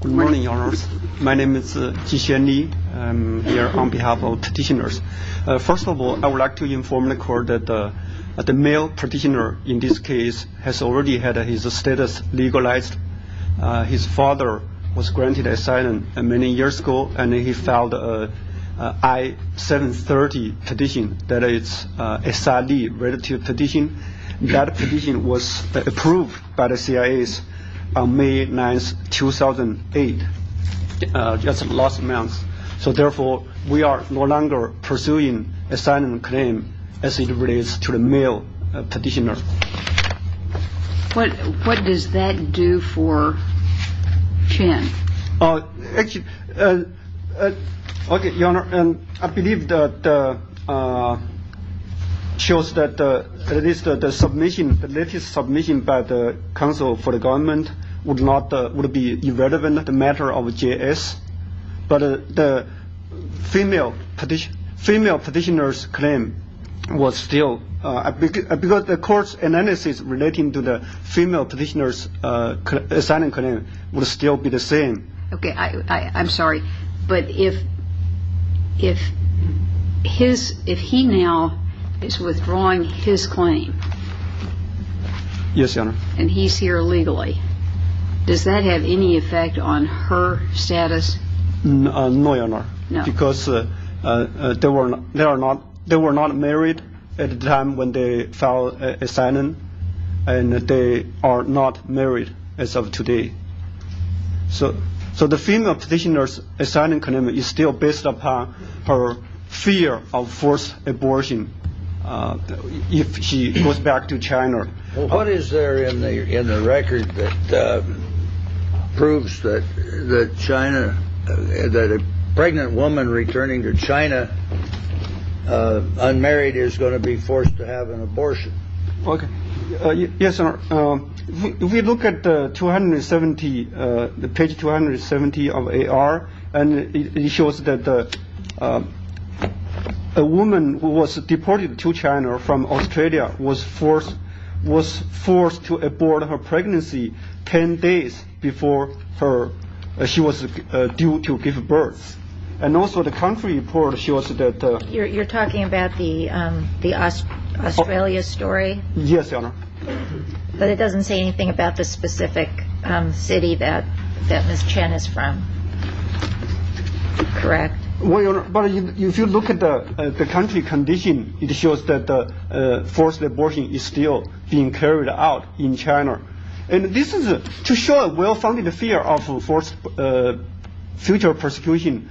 Good morning, your honors. My name is Jinxuan Li. I'm here on behalf of the petitioners. First of all, I would like to inform the court that the male petitioner in this case has already had his status legalized. His father was granted asylum many years ago, and he filed an I-730 petition, that is, an SR-Li relative petition. That petition was approved by the CIA on May 9, 2008, just last month. Therefore, we are no longer pursuing an asylum claim as it relates to the male petitioner. What does that do for Chen? Actually, your honor, I believe that shows that the latest submission by the Council for the Government would be irrelevant to the matter of JS. But the female petitioner's claim was still, because the court's analysis relating to the female petitioner's asylum claim would still be the same. Okay, I'm sorry, but if he now is withdrawing his claim, and he's here legally, does that have any effect on her status? No, your honor, because they were not married at the time when they filed asylum, and they are not married as of today. So the female petitioner's asylum claim is still based upon her fear of forced abortion if she goes back to China. What is there in the record that proves that a pregnant woman returning to China unmarried is going to be forced to have an abortion? Yes, your honor, if we look at page 270 of AR, it shows that a woman who was deported to China from Australia was forced to abort her pregnancy 10 days before she was due to give birth. And also the country report shows that... You're talking about the Australia story? Yes, your honor. But it doesn't say anything about the specific city that Ms. Chen is from, correct? Well, your honor, if you look at the country condition, it shows that forced abortion is still being carried out in China. And this is to show a well-founded fear of forced future persecution.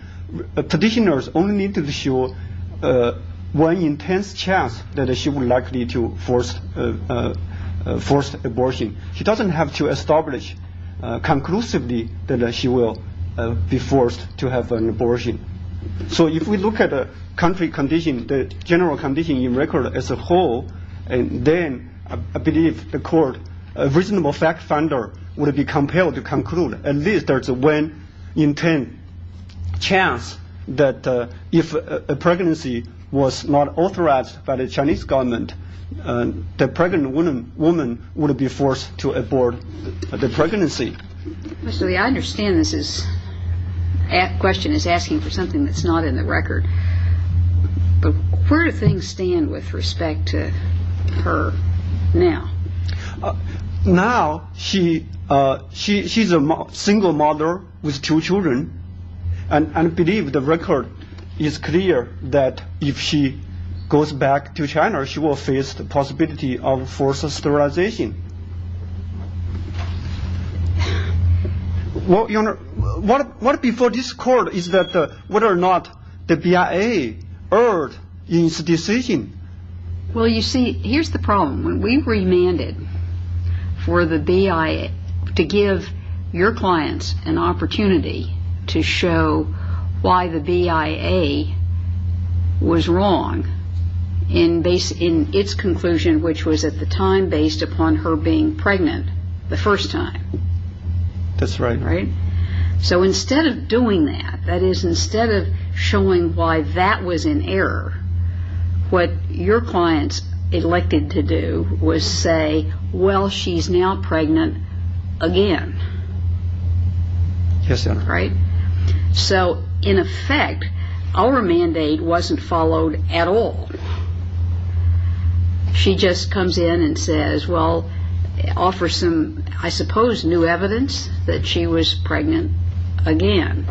Petitioners only need to show one intense chance that she will likely be forced to have an abortion. She doesn't have to establish conclusively that she will be forced to have an abortion. So if we look at the country condition, the general condition in record as a whole, then I believe the court, a reasonable fact finder, would be compelled to conclude at least there's one intense chance that if a pregnancy was not authorized by the Chinese government, the pregnant woman would be forced to abort the pregnancy. Mr. Li, I understand this question is asking for something that's not in the record. But where do things stand with respect to her now? Now, she's a single mother with two children. And I believe the record is clear that if she goes back to China, she will face the possibility of forced sterilization. Well, your honor, what before this court is that whether or not the BIA heard this decision? Well, you see, here's the problem. We remanded for the BIA to give your clients an opportunity to show why the BIA was wrong in its conclusion, which was at the time based upon her being pregnant the first time. That's right. So instead of doing that, that is, instead of showing why that was in error, what your clients elected to do was say, well, she's now pregnant again. Yes, your honor. So in effect, our mandate wasn't followed at all. She just comes in and says, well, offer some, I suppose, new evidence that she was pregnant again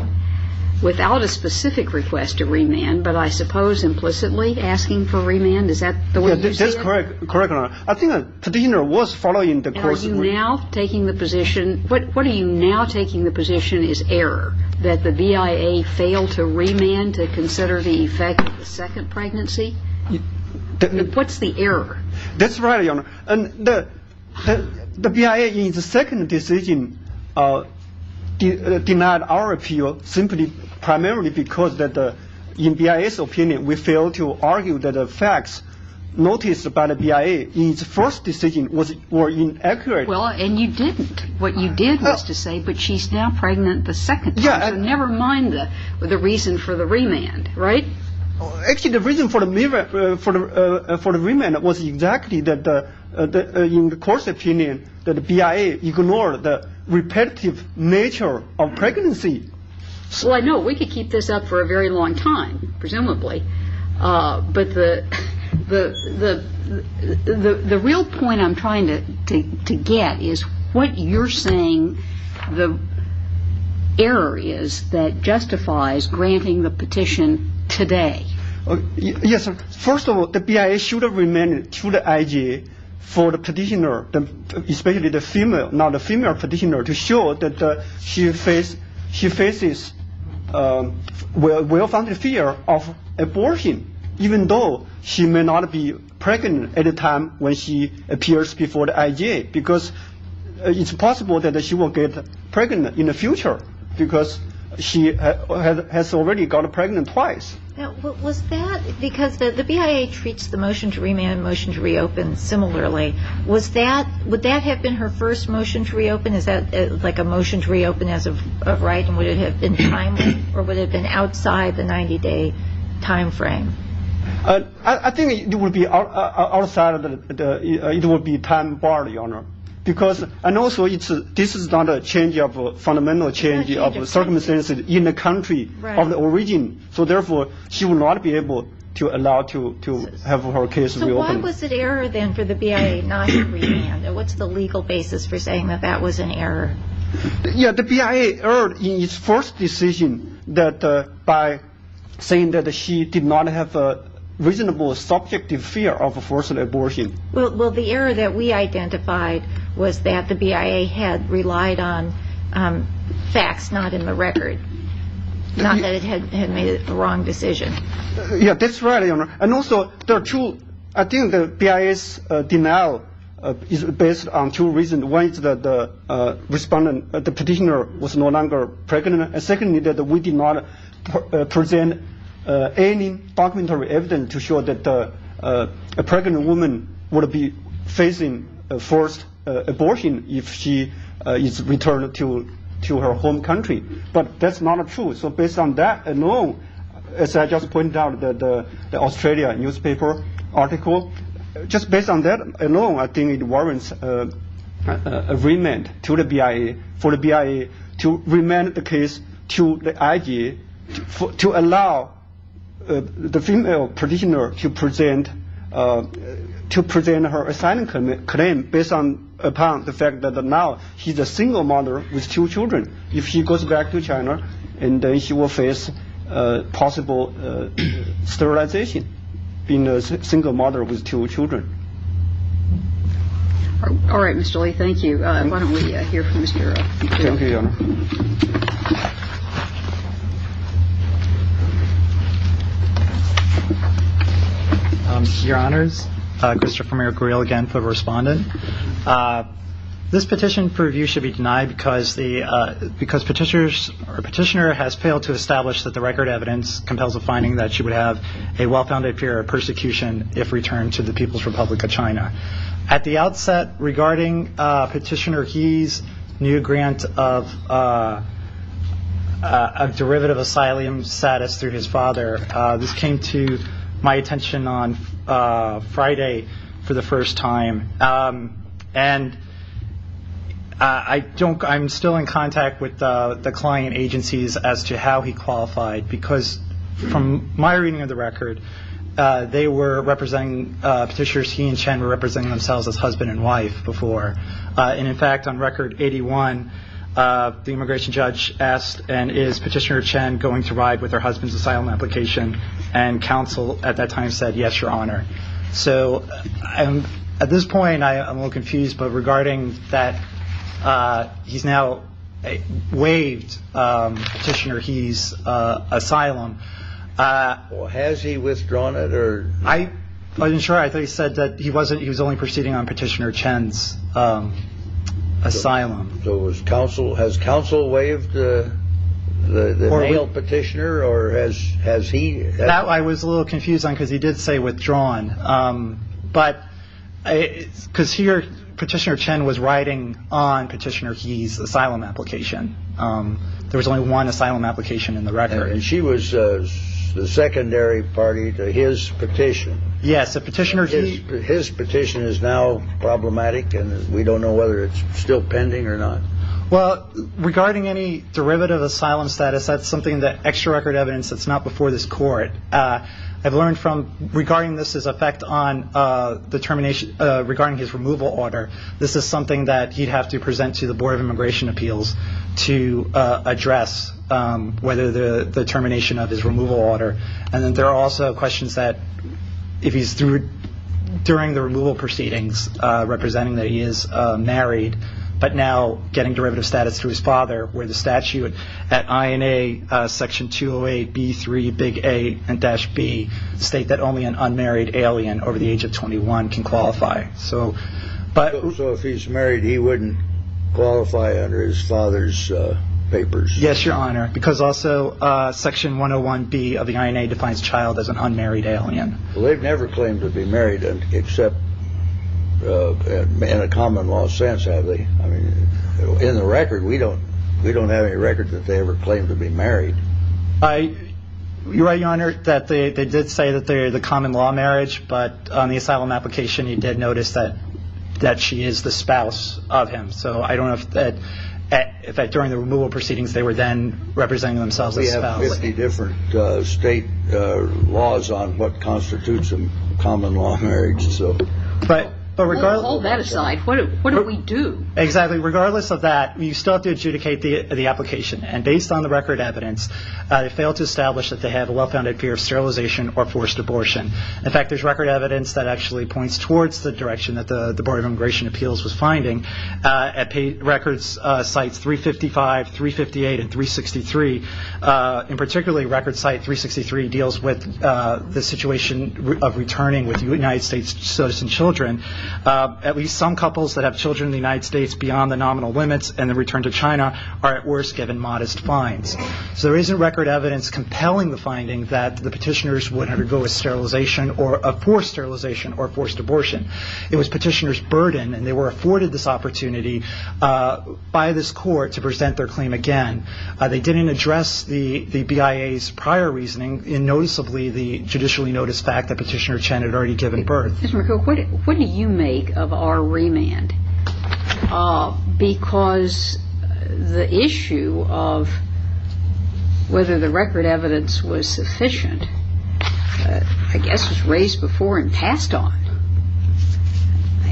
without a specific request to remand, but I suppose implicitly asking for remand. Is that the way you see it? That's correct, correct, your honor. I think the defender was following the court's rule. Are you now taking the position, what are you now taking the position is error, that the BIA failed to remand to consider the effect of the second pregnancy? What's the error? That's right, your honor. The BIA in its second decision denied our appeal simply primarily because in BIA's opinion, we failed to argue that the facts noticed by the BIA in its first decision were inaccurate. Well, and you didn't. What you did was to say, but she's now pregnant the second time, so never mind the reason for the remand, right? Actually, the reason for the remand was exactly in the court's opinion that the BIA ignored the repetitive nature of pregnancy. Well, I know we could keep this up for a very long time, presumably, but the real point I'm trying to get is what you're saying the error is that justifies granting the petition today. Yes, first of all, the BIA should have remanded to the IG for the petitioner, especially the female petitioner to show that she faces well-founded fear of abortion, even though she may not be pregnant at a time when she appears before the IG, because it's possible that she will get pregnant in the future because she has already gotten pregnant twice. Was that because the BIA treats the motion to remand, motion to reopen similarly, would that have been her first motion to reopen? Is that like a motion to reopen as of right and would it have been timely or would it have been outside the 90-day time frame? I think it would be outside, it would be time barred, Your Honor, because I know this is not a fundamental change of circumstances in the country of the origin, so therefore she would not be able to allow to have her case reopened. So why was it error then for the BIA not to remand? What's the legal basis for saying that that was an error? Yeah, the BIA erred in its first decision by saying that she did not have a reasonable subjective fear of forced abortion. Well, the error that we identified was that the BIA had relied on facts, not in the record, not that it had made a wrong decision. Yeah, that's right, Your Honor. And also, I think the BIA's denial is based on two reasons. One is that the respondent, the petitioner, was no longer pregnant. And secondly, that we did not present any documentary evidence to show that a pregnant woman would be facing forced abortion if she is returned to her home country. But that's not true. So based on that alone, as I just pointed out, the Australia newspaper article, just based on that alone, I think it warrants an agreement to the BIA, for the BIA to remand the case to the IG to allow the female petitioner to present her asylum claim based upon the fact that now she's a single mother with two children. If she goes back to China, then she will face possible sterilization, being a single mother with two children. All right, Mr. Li, thank you. Why don't we hear from Mr. Earl. Thank you, Your Honor. Your Honors, Christopher Merrick-Reel again for the respondent. This petition for review should be denied because the petitioner has failed to establish that the record evidence compels a finding that she would have a well-founded fear of persecution if returned to the People's Republic of China. At the outset, regarding Petitioner He's new grant of derivative asylum status through I'm still in contact with the client agencies as to how he qualified because from my reading of the record, they were representing petitioners, he and Chen were representing themselves as husband and wife before. In fact, on record 81, the immigration judge asked, and is Petitioner Chen going to ride with her husband's asylum application? And counsel at that time said, yes, Your Honor. So at this point, I am a little confused, but regarding that he's now waived Petitioner He's asylum. Has he withdrawn it? I wasn't sure. I thought he said that he wasn't. He was only proceeding on Petitioner Chen's asylum. So it was counsel. Has counsel waived the petitioner or has he? I was a little confused on because he did say withdrawn. But because here Petitioner Chen was riding on Petitioner He's asylum application. There was only one asylum application in the record. And she was the secondary party to his petition. Yes. A petitioner. His petition is now problematic and we don't know whether it's still pending or not. Well, regarding any derivative asylum status, that's something that extra record evidence. It's not before this court. I've learned from regarding this as a fact on the termination regarding his removal order. This is something that he'd have to present to the Board of Immigration Appeals to address whether the termination of his removal order. And then there are also questions that if he's through during the removal proceedings representing that he is married, but now getting derivative status to his father where the statute at INA Section 208 B3 big A and dash B state that only an unmarried alien over the age of 21 can qualify. So. But also if he's married, he wouldn't qualify under his father's papers. Yes, Your Honor. Because also Section 101 B of the INA defines child as an unmarried alien. Well, they've never claimed to be married except in a common law sense, have they? I mean, in the record, we don't we don't have any record that they ever claimed to be married. I. You're right, Your Honor, that they did say that they are the common law marriage. But on the asylum application, you did notice that that she is the spouse of him. So I don't know if that during the removal proceedings, they were then representing themselves. We have 50 different state laws on what constitutes a common law marriage. So. But regardless. Hold that aside. What do we do? Exactly. Regardless of that, you still have to adjudicate the application. And based on the record evidence, they failed to establish that they have a well-founded fear of sterilization or forced abortion. In fact, there's record evidence that actually points towards the direction that the Board of Immigration Appeals was finding. At records sites three fifty five, three fifty eight and three sixty three. In particularly record site three sixty three deals with the situation of returning with the United States citizen children. At least some couples that have children in the United States beyond the nominal limits and the return to China are at worst given modest fines. So there isn't record evidence compelling the finding that the petitioners would undergo a sterilization or a forced sterilization or forced abortion. It was petitioners burden and they were afforded this opportunity by this court to present their claim again. They didn't address the BIA's prior reasoning in noticeably the judicially noticed fact that Petitioner Chen had already given birth. What do you make of our remand? Because the issue of whether the record evidence was sufficient, I guess, was raised before and passed on.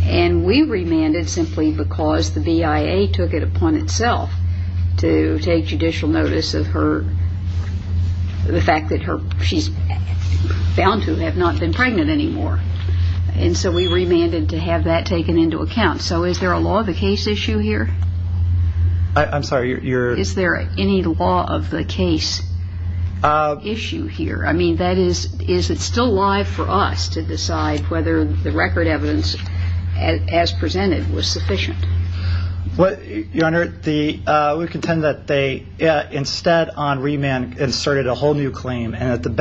And we remanded simply because the BIA took it upon itself to take judicial notice of her. The fact that she's found to have not been pregnant anymore. And so we remanded to have that taken into account. So is there a law of the case issue here? I'm sorry. Is there any law of the case issue here? I mean, is it still alive for us to decide whether the record evidence as presented was sufficient? Your Honor, we contend that they instead on remand inserted a whole new claim and it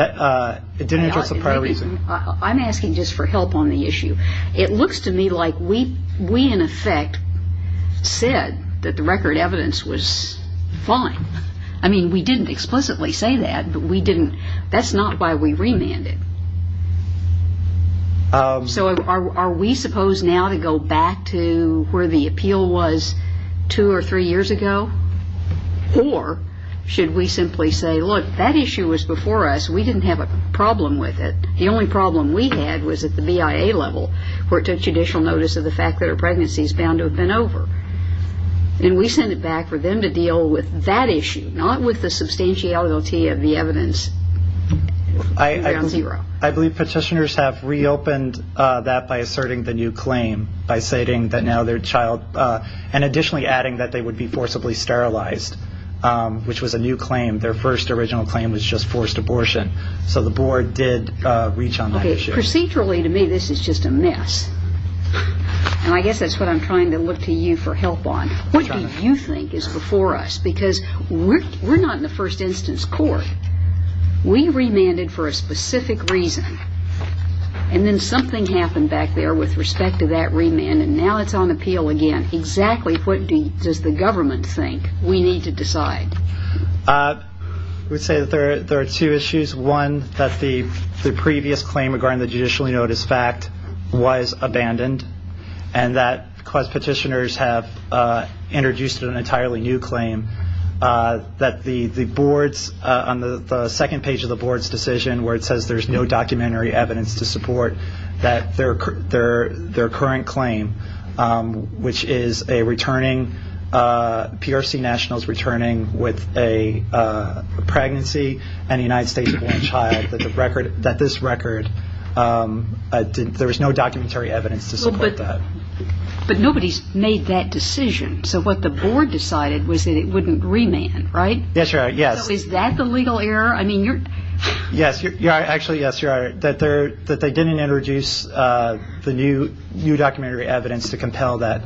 didn't address the prior reason. I'm asking just for help on the issue. It looks to me like we in effect said that the record evidence was fine. I mean, we didn't explicitly say that, but we didn't. That's not why we remanded. So are we supposed now to go back to where the appeal was two or three years ago? Or should we simply say, look, that issue was before us. We didn't have a problem with it. The only problem we had was at the BIA level where it took judicial notice of the fact that her pregnancy is bound to have been over. And we send it back for them to deal with that issue, not with the substantiality of the evidence. I believe petitioners have reopened that by asserting the new claim by stating that now their child and additionally adding that they would be forcibly sterilized, which was a new claim. Their first original claim was just forced abortion. So the board did reach on that issue. Procedurally to me, this is just a mess. And I guess that's what I'm trying to look to you for help on. What do you think is before us? Because we're not in the first instance court. We remanded for a specific reason, and then something happened back there with respect to that remand, and now it's on appeal again. Exactly what does the government think we need to decide? I would say that there are two issues. One, that the previous claim regarding the judicially noticed fact was abandoned and that petitioners have introduced an entirely new claim that the boards on the second page of the board's decision where it says there's no documentary evidence to support that their current claim, which is PRC Nationals returning with a pregnancy and a United States born child, that this record, there was no documentary evidence to support that. But nobody's made that decision. So what the board decided was that it wouldn't remand, right? That's right, yes. So is that the legal error? Yes, actually yes, Your Honor. That they didn't introduce the new documentary evidence to compel that,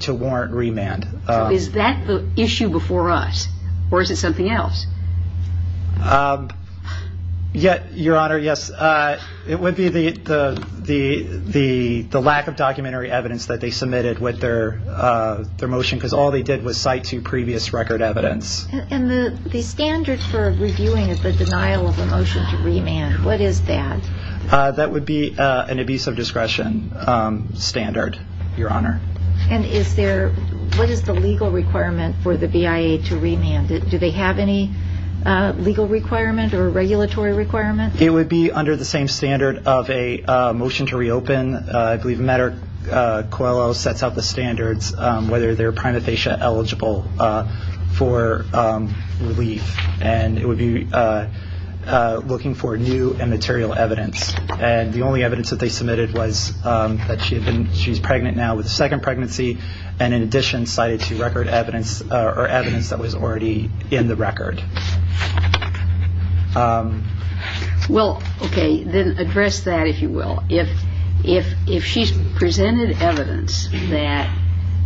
to warrant remand. So is that the issue before us, or is it something else? Your Honor, yes. It would be the lack of documentary evidence that they submitted with their motion, because all they did was cite two previous record evidence. And the standard for reviewing is the denial of a motion to remand. What is that? That would be an abuse of discretion standard, Your Honor. And what is the legal requirement for the BIA to remand? Do they have any legal requirement or regulatory requirement? It would be under the same standard of a motion to reopen. And then I believe Matter Coelho sets out the standards, whether they're prima facie eligible for relief. And it would be looking for new and material evidence. And the only evidence that they submitted was that she's pregnant now with a second pregnancy, and in addition cited two record evidence or evidence that was already in the record. Well, okay, then address that, if you will. If she's presented evidence that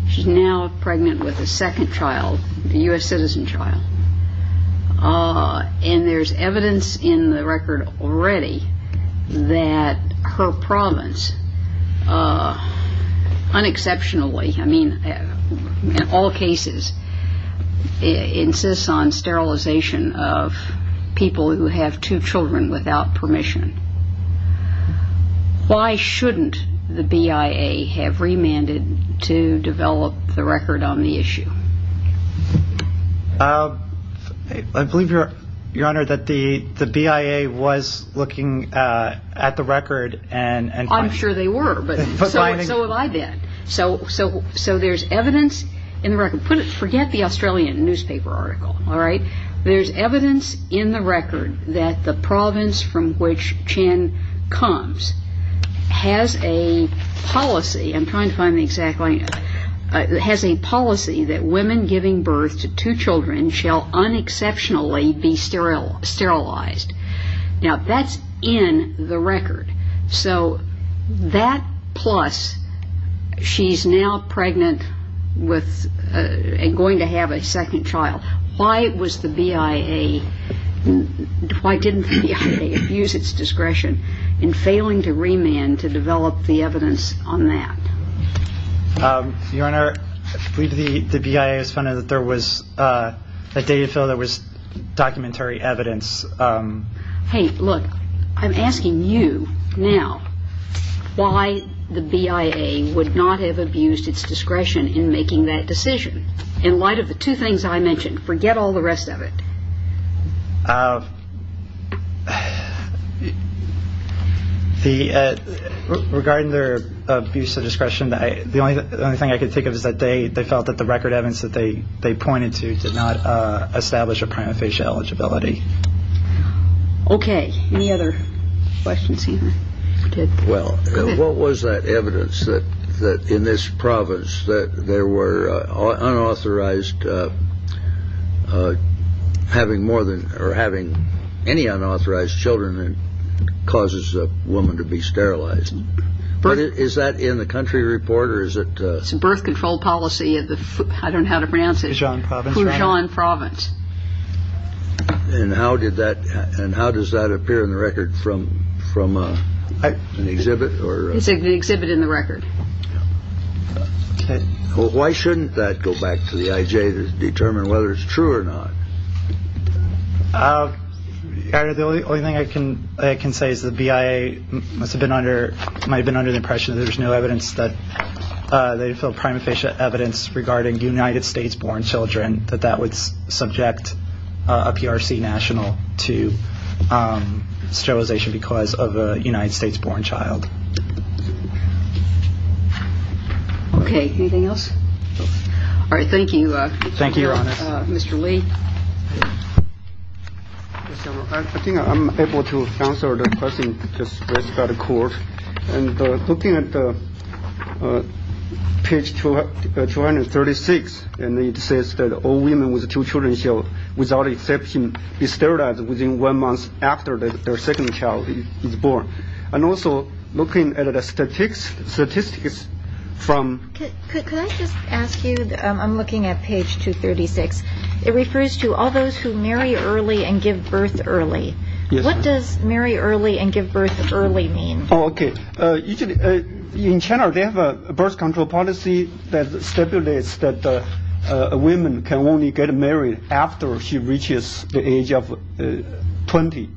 she's now pregnant with a second child, a U.S. citizen child, and there's evidence in the record already that her province, unexceptionally, I mean, in all cases, insists on sterilization of people who have two children without permission, why shouldn't the BIA have remanded to develop the record on the issue? I believe, Your Honor, that the BIA was looking at the record and ‑‑ I'm sure they were, but so have I been. So there's evidence in the record. Forget the Australian newspaper article, all right? There's evidence in the record that the province from which Chan comes has a policy. I'm trying to find the exact line. It has a policy that women giving birth to two children shall unexceptionally be sterilized. Now, that's in the record. So that plus she's now pregnant with and going to have a second child, why was the BIA ‑‑ why didn't the BIA use its discretion in failing to remand to develop the evidence on that? Your Honor, I believe the BIA has found that there was a data file that was documentary evidence. Hey, look, I'm asking you now why the BIA would not have abused its discretion in making that decision in light of the two things I mentioned. Forget all the rest of it. Regarding their abuse of discretion, the only thing I can think of is that they felt that the record evidence that they pointed to did not establish a prima facie eligibility. Okay, any other questions here? Well, what was that evidence that in this province that there were unauthorized having more than or having any unauthorized children causes a woman to be sterilized? Is that in the country report or is it? It's a birth control policy. I don't know how to pronounce it. And how does that appear in the record from an exhibit? It's an exhibit in the record. Why shouldn't that go back to the IJ to determine whether it's true or not? Your Honor, the only thing I can say is the BIA might have been under the impression that there's no evidence that they feel prima facie evidence regarding United States-born children that that would subject a PRC national to sterilization because of a United States-born child. Okay, anything else? All right, thank you. Thank you, Your Honor. Mr. Li. I think I'm able to answer the question just raised by the court. And looking at page 236, and it says that all women with two children without exception be sterilized within one month after their second child is born. And also looking at the statistics from- Can I just ask you, I'm looking at page 236. It refers to all those who marry early and give birth early. What does marry early and give birth early mean? Okay. In general, they have a birth control policy that stipulates that women can only get married after she reaches the age of 20.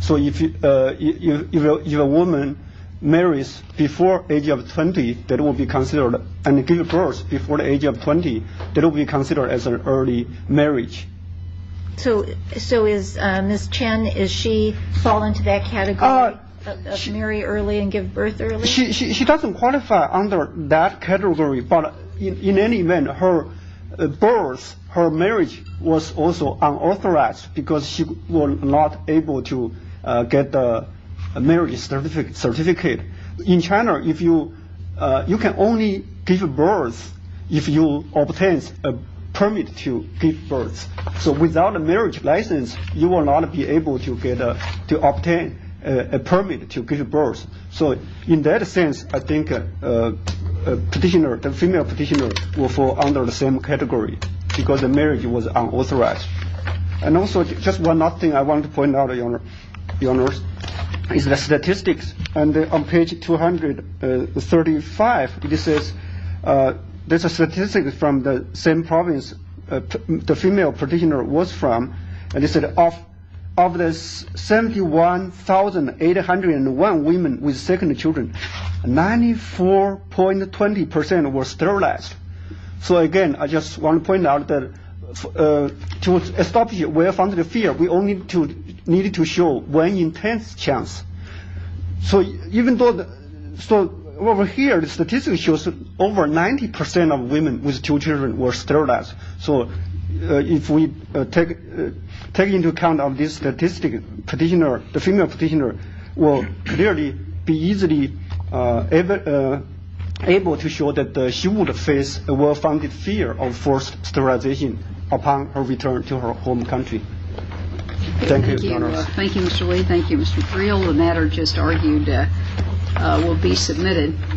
So if a woman marries before the age of 20, that will be considered, and gives birth before the age of 20, that will be considered as an early marriage. So is Ms. Chen, does she fall into that category of marry early and give birth early? She doesn't qualify under that category, but in any event, her birth, her marriage was also unauthorized because she was not able to get a marriage certificate. In China, you can only give birth if you obtain a permit to give birth. So without a marriage license, you will not be able to obtain a permit to give birth. So in that sense, I think the female petitioner will fall under the same category because the marriage was unauthorized. And also, just one last thing I want to point out, Your Honor, is the statistics. On page 235, it says there's a statistic from the same province the female petitioner was from. It said of the 71,801 women with second children, 94.20% were sterilized. So again, I just want to point out that to establish a well-founded fear, we only need to show one intense chance. So over here, the statistic shows that over 90% of women with two children were sterilized. So if we take into account this statistic, the female petitioner will clearly be easily able to show that she would face a well-founded fear of forced sterilization upon her return to her home country. Thank you, Your Honor. Thank you, Mr. Li. Thank you, Mr. Creel. The matter just argued will be submitted.